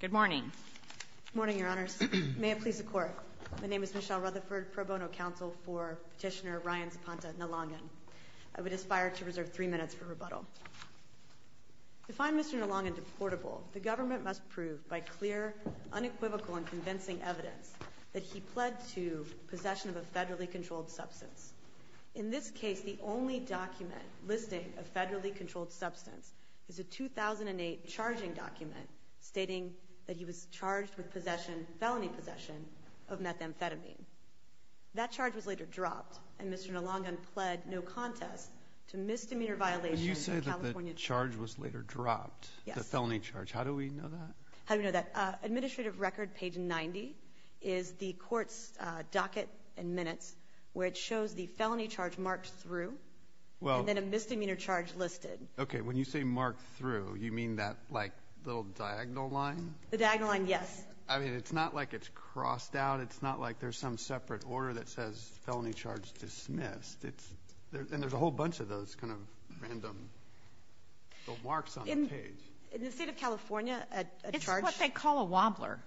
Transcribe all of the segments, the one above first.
Good morning. Good morning, Your Honors. May it please the Court, my name is Michelle Rutherford, Pro Bono Counsel for Petitioner Ryan Zapata Nalangan. I would aspire to reserve three minutes for rebuttal. To find Mr. Nalangan deportable, the government must prove by clear, unequivocal, and convincing evidence that he pled to possession of a federally controlled substance. In this case, the only document listing a federally controlled substance is a 2008 charging document stating that he was charged with possession, felony possession, of methamphetamine. That charge was later dropped, and Mr. Nalangan pled no contest to misdemeanor violations of California law. When you say that the charge was later dropped, the felony charge, how do we know that? How do we know that? Administrative record, page 90, is the Court's docket and minutes, where it shows the felony charge marked through. And then a misdemeanor charge listed. Okay. When you say marked through, you mean that, like, little diagonal line? The diagonal line, yes. I mean, it's not like it's crossed out. It's not like there's some separate order that says felony charge dismissed. And there's a whole bunch of those kind of random marks on the page. In the State of California, a charge — It's what they call a wobbler,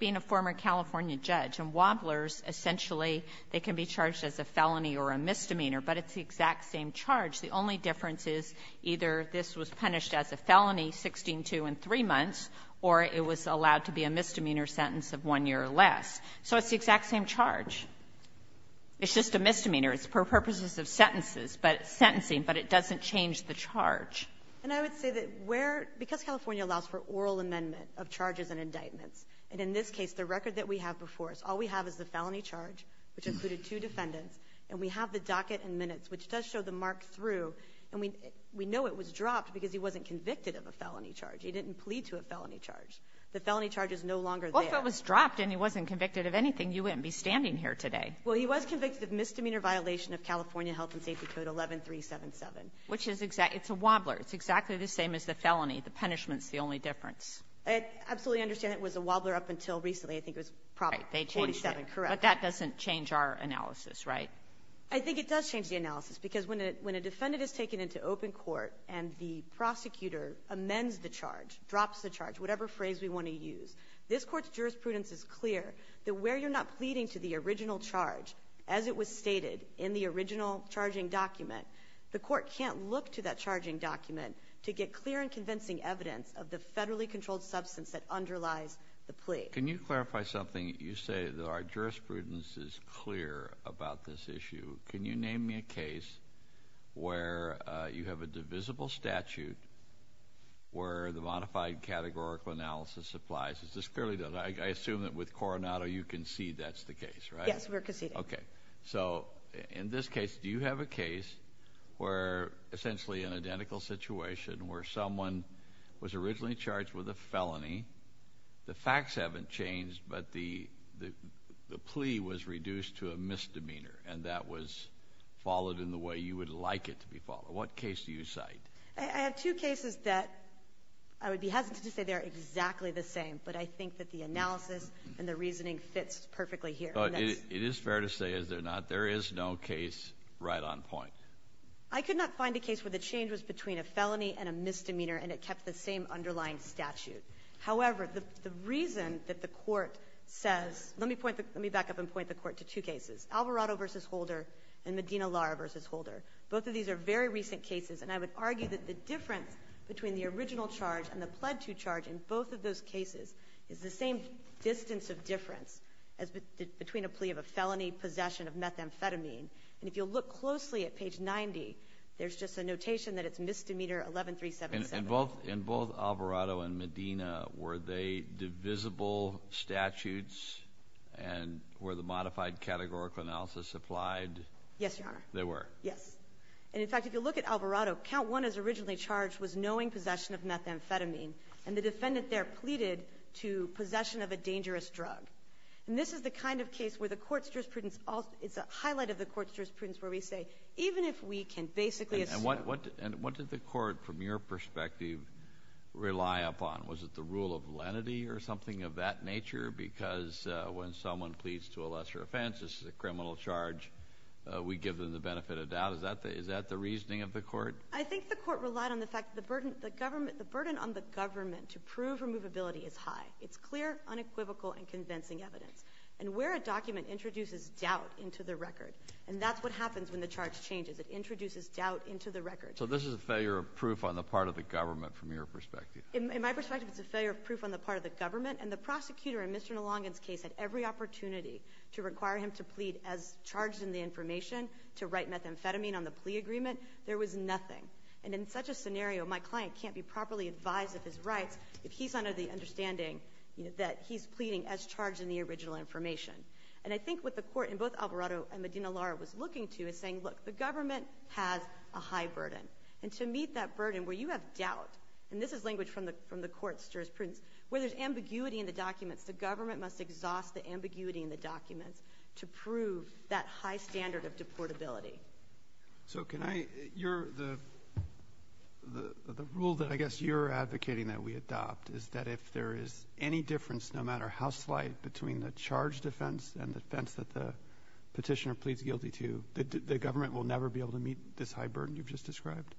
being a former California judge. And wobblers, essentially, they can be charged as a felony or a misdemeanor. But it's the exact same charge. The only difference is either this was punished as a felony, 16-2 in three months, or it was allowed to be a misdemeanor sentence of one year or less. So it's the exact same charge. It's just a misdemeanor. It's for purposes of sentences, but it's sentencing, but it doesn't change the charge. And I would say that where — because California allows for oral amendment of charges and indictments, and in this case, the record that we have before us, all we have is the felony charge, which included two defendants, and we have the docket and minutes, which does show the mark through. And we know it was dropped because he wasn't convicted of a felony charge. He didn't plead to a felony charge. The felony charge is no longer there. Well, if it was dropped and he wasn't convicted of anything, you wouldn't be standing here today. Well, he was convicted of misdemeanor violation of California Health and Safety Code 11377. Which is exactly — it's a wobbler. It's exactly the same as the felony. The punishment's the only difference. I absolutely understand it was a wobbler up until recently. I think it was Prop 47. Correct. But that doesn't change our analysis, right? I think it does change the analysis, because when a defendant is taken into open court and the prosecutor amends the charge, drops the charge, whatever phrase we want to use, this Court's jurisprudence is clear that where you're not pleading to the original charge as it was stated in the original charging document, the court can't look to that document to get clear and convincing evidence of the federally controlled substance that underlies the plea. Can you clarify something? You say that our jurisprudence is clear about this issue. Can you name me a case where you have a divisible statute where the modified categorical analysis applies? Is this clearly done? I assume that with Coronado, you concede that's the case, right? Yes, we're conceding. Okay. So in this case, do you have a case where essentially an identical situation where someone was originally charged with a felony, the facts haven't changed, but the plea was reduced to a misdemeanor, and that was followed in the way you would like it to be followed? What case do you cite? I have two cases that I would be hesitant to say they're exactly the same, but I think that the analysis and the reasoning fits perfectly here. It is fair to say, is there not? There is no case right on point. I could not find a case where the change was between a felony and a misdemeanor, and it kept the same underlying statute. However, the reason that the Court says, let me point, let me back up and point the Court to two cases, Alvarado v. Holder and Medina-Lara v. Holder. Both of these are very recent cases, and I would argue that the difference between the original charge and the pled to charge in both of those cases is the same distance of between a plea of a felony, possession of methamphetamine, and if you'll look closely at page 90, there's just a notation that it's misdemeanor 11377. And in both Alvarado and Medina, were they divisible statutes and were the modified categorical analysis applied? Yes, Your Honor. They were? Yes. And in fact, if you look at Alvarado, count one as originally charged was knowing possession of methamphetamine, and the defendant there pleaded to possession of a dangerous drug. And this is the kind of case where the Court's jurisprudence also – it's a highlight of the Court's jurisprudence where we say, even if we can basically assume – And what – and what did the Court, from your perspective, rely upon? Was it the rule of lenity or something of that nature? Because when someone pleads to a lesser offense, this is a criminal charge, we give them the benefit of doubt. Is that the reasoning of the Court? I think the Court relied on the fact that the burden – the government – the burden on the government to prove removability is high. It's clear, unequivocal, and convincing evidence. And where a document introduces doubt into the record, and that's what happens when the charge changes. It introduces doubt into the record. So this is a failure of proof on the part of the government, from your perspective? In my perspective, it's a failure of proof on the part of the government. And the prosecutor in Mr. Nalongan's case had every opportunity to require him to plead as charged in the information to write methamphetamine on the plea agreement. There was nothing. And in such a scenario, my client can't be properly advised of his rights if he's not in the understanding that he's pleading as charged in the original information. And I think what the Court in both Alvarado and Medina-Lara was looking to is saying, look, the government has a high burden. And to meet that burden, where you have doubt – and this is language from the Court's jurisprudence – where there's ambiguity in the documents, the government must exhaust the ambiguity in the documents to prove that high standard of deportability. So can I – your – the rule that I guess you're advocating that we adopt is that if there is any difference, no matter how slight, between the charge defense and the defense that the Petitioner pleads guilty to, the government will never be able to meet this high burden you've just described?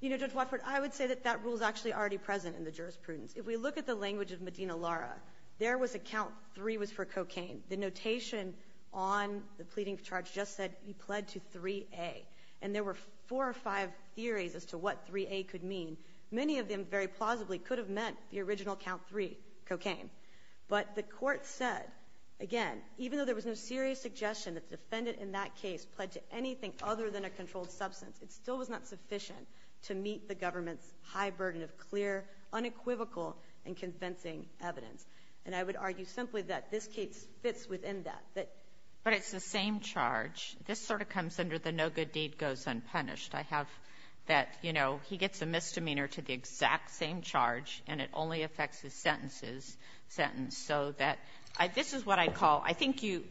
You know, Judge Watford, I would say that that rule is actually already present in the jurisprudence. If we look at the language of Medina-Lara, there was a count three was for cocaine. The notation on the pleading charge just said he pled to 3A. And there were four or five theories as to what 3A could mean. Many of them very plausibly could have meant the original count three, cocaine. But the Court said, again, even though there was no serious suggestion that the defendant in that case pled to anything other than a controlled substance, it still was not sufficient to meet the government's high burden of clear, unequivocal, and convincing evidence. And I would argue simply that this case fits within that. But it's the same charge. This sort of comes under the no good deed goes unpunished. I have that, you know, he gets a misdemeanor to the exact same charge, and it only affects his sentence, so that this is what I call, I think you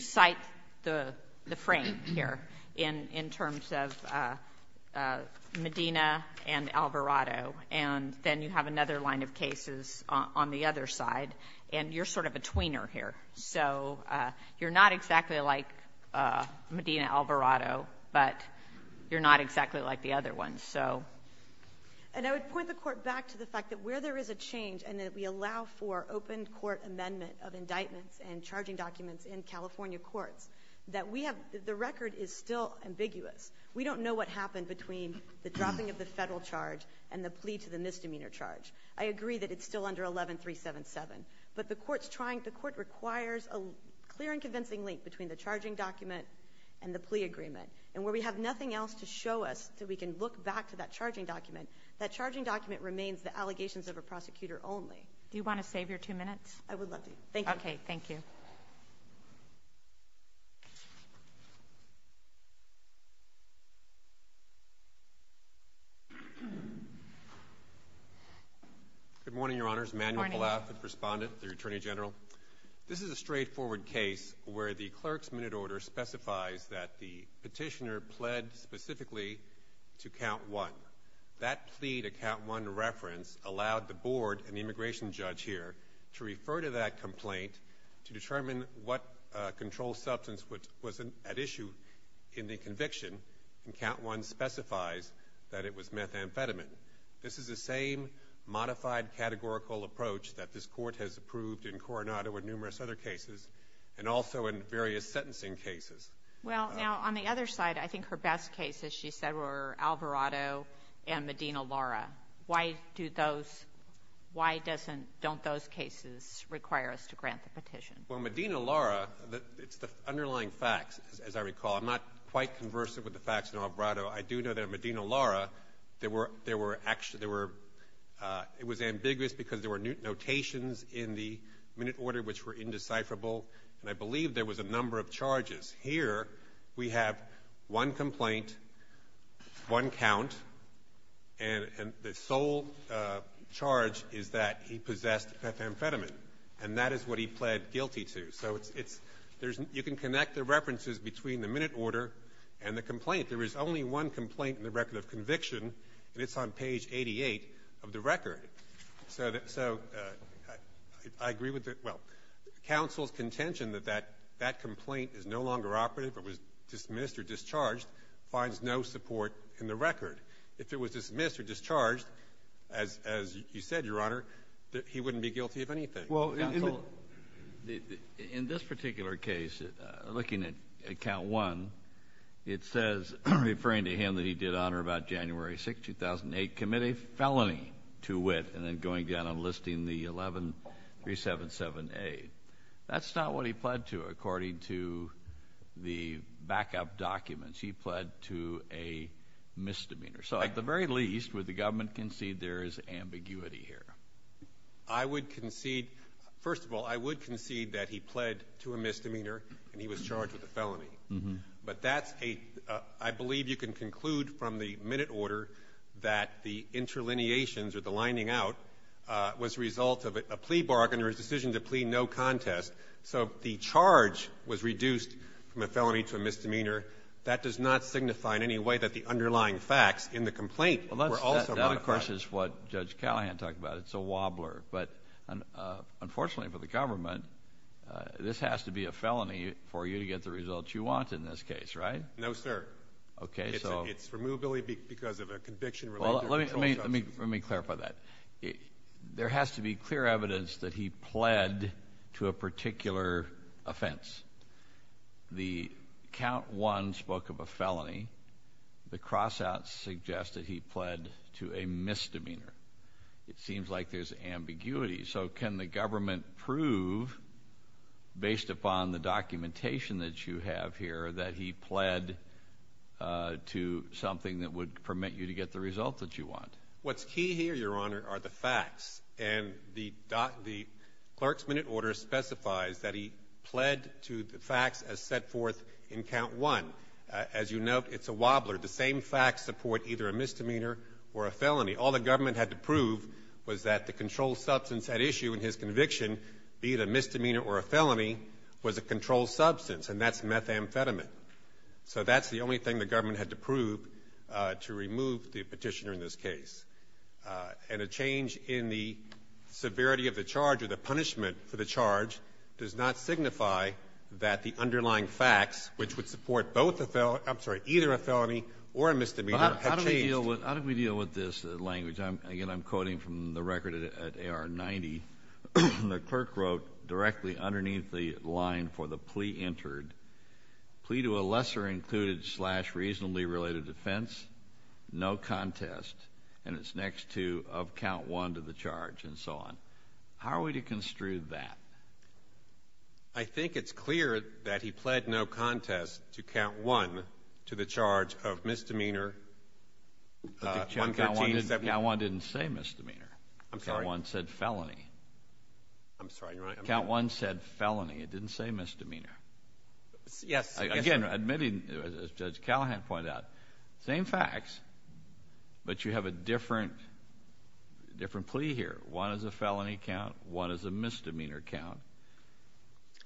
cite the frame here in terms of Medina and Alvarado, and then you have another line of cases on the other side, and you're sort of a tweener here. So you're not exactly like Medina-Alvarado, but you're not exactly like the other one. So the court is still ambiguous. We don't know what happened between the dropping of the Federal charge and the plea to the misdemeanor charge. I agree that it's still under 11377, but the court's trying, the court requires a clear and convincing link between the charging document and the plea agreement. And where we have nothing else to show us that we can look back to that charging document, that charging document remains the allegations of a prosecutor only. Do you want to save your two minutes? I would love to. Thank you. Okay, thank you. Good morning, Your Honors. Manuel Palaf, the respondent, the Attorney General. This is a straightforward case where the clerk's minute order specifies that the petitioner pled specifically to count one. That plea to count one reference allowed the board, an immigration judge here, to refer to that complaint to determine what control substance was at issue in the conviction, and count one specifies that it was methamphetamine. This is the same modified categorical approach that this Court has approved in Coronado and numerous other cases, and also in various sentencing cases. Well, now, on the other side, I think her best cases, she said, were Alvarado and Medina-Lara. Why do those – why doesn't – don't those cases require us to grant the petition? Well, Medina-Lara, it's the underlying facts, as I recall. I'm not quite conversant with the facts in Alvarado. I do know that in Medina-Lara, there were – there were – there were – it was ambiguous because there were notations in the minute order which were indecipherable, and I believe there was a number of charges. Here, we have one complaint, one count, and the sole charge is that he possessed methamphetamine, and that is what he pled guilty to. So it's – you can connect the references between the minute order and the complaint. There is only one complaint in the record of conviction, and it's on page 88 of the record. So I agree with the – well, counsel's contention that that complaint is no longer operative, it was dismissed or discharged, finds no support in the record. If it was dismissed or discharged, as you said, Your Honor, that he wouldn't be guilty of anything. Counsel, in this particular case, looking at count one, it says, referring to him that he did honor about January 6th, 2008, commit a felony to wit and then going down and listing the 11377A. That's not what he pled to, according to the backup documents. He pled to a misdemeanor. So at the very least, would the government concede there is ambiguity here? I would concede – first of all, I would concede that he pled to a misdemeanor and he was charged with a felony. But that's a – I believe you can conclude from the minute order that the interlineations or the lining out was a result of a plea bargain or a decision to plea no contest. So the charge was reduced from a felony to a misdemeanor. That does not signify in any way that the underlying facts in the complaint were also modified. That, of course, is what Judge Callahan talked about. It's a wobbler. But unfortunately for the government, this has to be a felony for you to get the results you want in this case, right? No, sir. Okay, so – It's removably because of a conviction related – Well, let me clarify that. There has to be clear evidence that he pled to a particular offense. The count one spoke of a felony. The cross-outs suggest that he pled to a misdemeanor. It seems like there's ambiguity. So can the government prove, based upon the documentation that you have here, that he pled to something that would permit you to get the result that you want? What's key here, Your Honor, are the facts. And the clerk's minute order specifies that he pled to the facts as set forth in count one. As you note, it's a wobbler. The same facts support either a misdemeanor or a felony. All the government had to prove was that the controlled substance at issue in his conviction, be it a misdemeanor or a felony, was a controlled substance. And that's methamphetamine. So that's the only thing the government had to prove to remove the petitioner in this case. And a change in the severity of the charge or the punishment for the charge does not signify that the underlying facts, which would support either a felony or a misdemeanor, have changed. But how do we deal with this language? Again, I'm quoting from the record at A.R. 90. The clerk wrote directly underneath the line for the plea entered, plea to a lesser included slash reasonably related offense, no contest, and it's next to of count one to the charge, and so on. How are we to construe that? I think it's clear that he pled no contest to count one to the charge of misdemeanor. Count one didn't say misdemeanor. I'm sorry. Count one said felony. I'm sorry. Count one said felony. It didn't say misdemeanor. Yes. Again, admitting, as Judge Callahan pointed out, same facts, but you have a different plea here. One is a felony count. One is a misdemeanor count.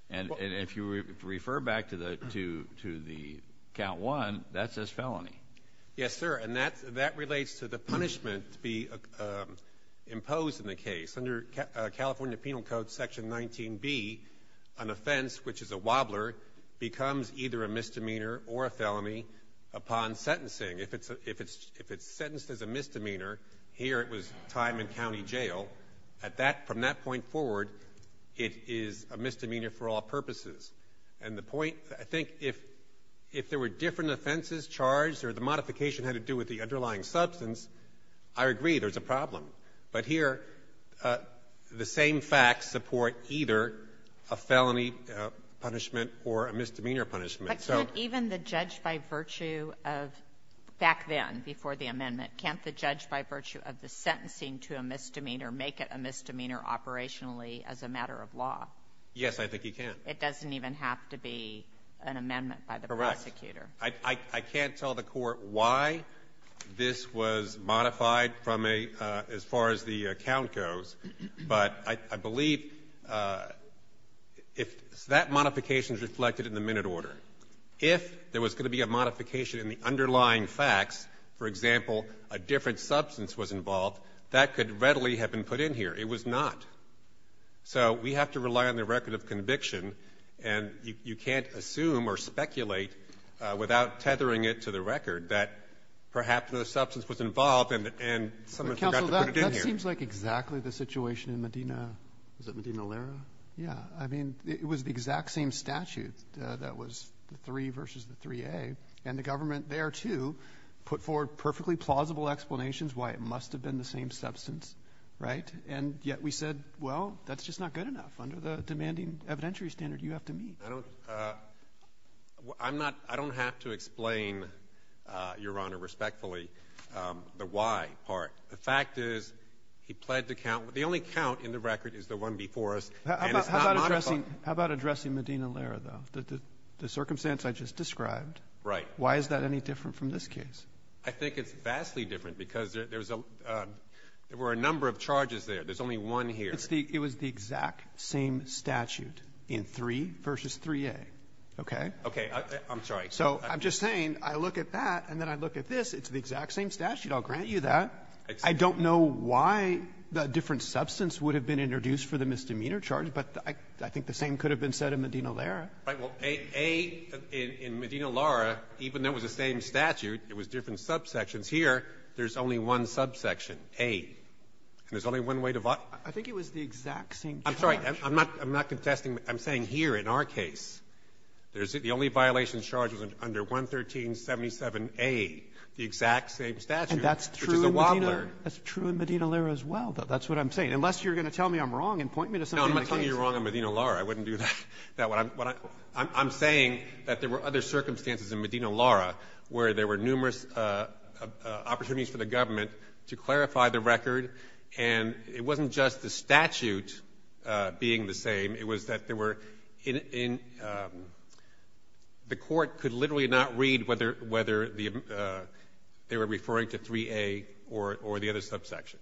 And if you refer back to the count one, that says felony. Yes, sir. And that relates to the punishment to be imposed in the case. Under California Penal Code Section 19B, an offense, which is a wobbler, becomes either a misdemeanor or a felony upon sentencing. If it's sentenced as a misdemeanor, here it was time in county jail. From that point forward, it is a misdemeanor for all purposes. And the point, I think, if there were different offenses charged or the modification had to do with the underlying substance, I agree, there's a problem. But here, the same facts support either a felony punishment or a misdemeanor punishment. But can't even the judge, by virtue of back then, before the amendment, can't the judge, by virtue of the sentencing to a misdemeanor, make it a misdemeanor operationally as a matter of law? Yes, I think he can. It doesn't even have to be an amendment by the prosecutor. Correct. I can't tell the Court why this was modified from a as far as the count goes, but I believe if that modification is reflected in the minute order, if there was going to be a modification in the underlying facts, for example, a different substance was involved, that could readily have been put in here. It was not. So we have to rely on the record of conviction. And you can't assume or speculate without tethering it to the record that perhaps no substance was involved and someone forgot to put it in here. That seems like exactly the situation in Medina. Is it Medina-Lara? Yeah. I mean, it was the exact same statute that was the 3 v. the 3A. And the government there, too, put forward perfectly plausible explanations why it must have been the same substance, right? And yet we said, well, that's just not good enough under the demanding evidentiary standard you have to meet. I don't – I'm not – I don't have to explain, Your Honor, respectfully, the why part. The fact is he pled to count. The only count in the record is the one before us. And it's not modified. How about addressing Medina-Lara, though, the circumstance I just described? Right. Why is that any different from this case? I think it's vastly different because there's a – there were a number of charges there. There's only one here. It's the – it was the exact same statute in 3 v. 3A, okay? Okay. I'm sorry. So I'm just saying I look at that and then I look at this. It's the exact same statute. I'll grant you that. I don't know why a different substance would have been introduced for the misdemeanor charge, but I think the same could have been said in Medina-Lara. Right. Well, A in Medina-Lara, even though it was the same statute, it was different subsections. Here, there's only one subsection, A, and there's only one way to violate it. I think it was the exact same charge. I'm sorry. I'm not – I'm not confessing. I'm saying here in our case, there's – the only violation charge was under 11377A, the exact same statute. And that's true in Medina-Lara as well, though. That's what I'm saying. Unless you're going to tell me I'm wrong and point me to something in the case. No, I'm not telling you you're wrong on Medina-Lara. I wouldn't do that. I'm saying that there were other circumstances in Medina-Lara where there were numerous opportunities for the government to clarify the record, and it wasn't just the statute being the same. It was that there were – the Court could literally not read whether the – they were referring to 3A or the other subsection.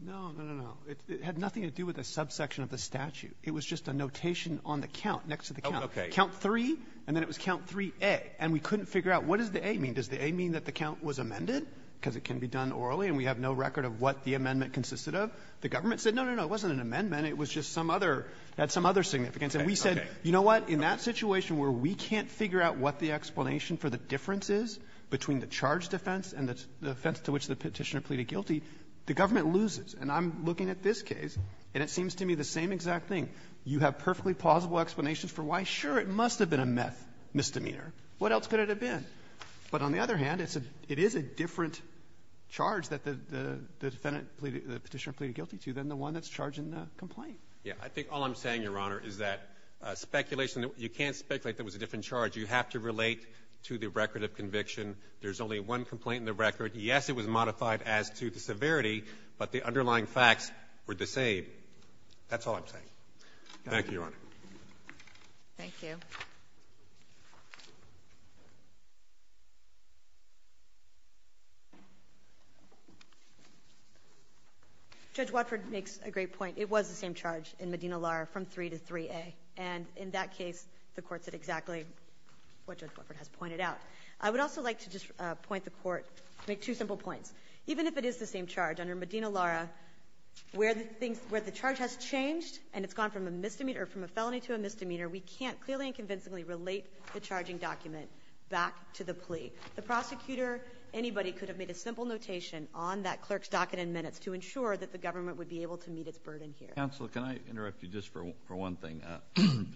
No, no, no, no. It had nothing to do with the subsection of the statute. It was just a notation on the count, next to the count. Oh, okay. Count 3, and then it was count 3A. And we couldn't figure out what does the A mean? Does the A mean that the count was amended because it can be done orally and we have no record of what the amendment consisted of? The government said, no, no, no, it wasn't an amendment. It was just some other – it had some other significance. And we said, you know what? In that situation where we can't figure out what the explanation for the difference is between the charge defense and the defense to which the Petitioner pleaded guilty, the government loses. And I'm looking at this case, and it seems to me the same exact thing. You have perfectly plausible explanations for why, sure, it must have been a misdemeanor. What else could it have been? But on the other hand, it's a – it is a different charge that the defendant pleaded – the Petitioner pleaded guilty to than the one that's charged in the complaint. Yeah. I think all I'm saying, Your Honor, is that speculation – you can't speculate that it was a different charge. You have to relate to the record of conviction. There's only one complaint in the record. Yes, it was modified as to the severity, but the underlying facts were the same. That's all I'm saying. Thank you, Your Honor. Thank you. Judge Watford makes a great point. It was the same charge in Medina-Lar from 3 to 3A. And in that case, the Court said exactly what Judge Watford has pointed out. I would also like to just point the Court – make two simple points. Even if it is the same charge under Medina-Lar, where the charge has changed and it's gone from a misdemeanor – or from a felony to a misdemeanor, we can't clearly and convincingly relate the charging document back to the plea. The prosecutor, anybody, could have made a simple notation on that clerk's docket in minutes to ensure that the government would be able to meet its burden here. Counsel, can I interrupt you just for one thing?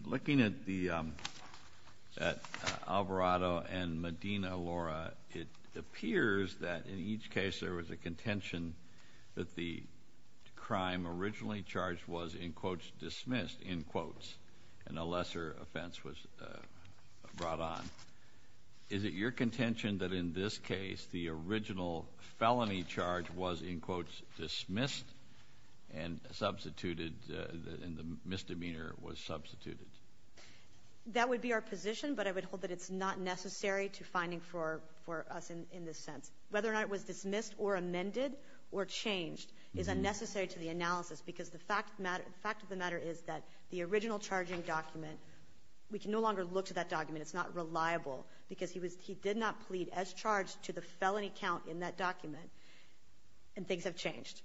Looking at the – at Alvarado and Medina-Lar, it appears that in each case there was a contention that the crime originally charged was, in quotes, dismissed, in quotes, and a lesser offense was brought on. Is it your contention that in this case, the original felony charge was, in quotes, dismissed and substituted – and the misdemeanor was substituted? That would be our position, but I would hold that it's not necessary to finding for us in this sense. Whether or not it was dismissed or amended or changed is unnecessary to the analysis because the fact of the matter is that the original charging document – we can no longer look to that document. It's not reliable because he was – he did not plead as charged to the felony count in that document, and things have changed.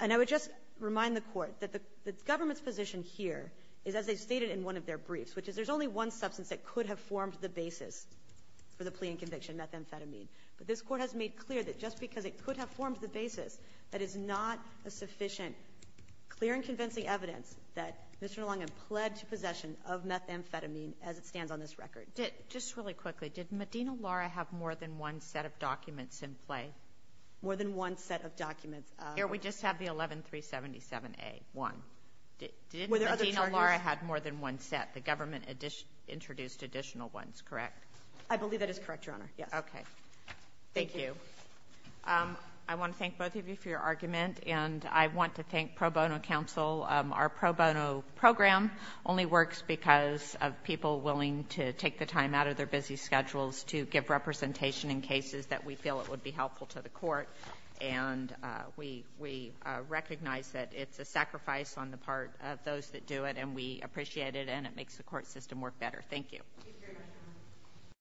And I would just remind the Court that the government's position here is, as they stated in one of their briefs, which is there's only one substance that could have formed the basis for the plea and conviction, methamphetamine. But this Court has made clear that just because it could have formed the basis, that is not a sufficient clear and convincing evidence that Mr. Nalangan pled to possession of methamphetamine as it stands on this record. Kagan. Just really quickly, did Medina-Lara have more than one set of documents in play? More than one set of documents. Here we just have the 11-377a-1. Did Medina-Lara have more than one set? The government introduced additional ones, correct? I believe that is correct, Your Honor, yes. Okay. Thank you. I want to thank both of you for your argument, and I want to thank Pro Bono counsel. Our Pro Bono program only works because of people willing to take the time out of their busy schedules to give representation in cases that we feel it would be helpful to the Court. And we recognize that it's a sacrifice on the part of those that do it, and we appreciate it, and it makes the court system work better. Thank you.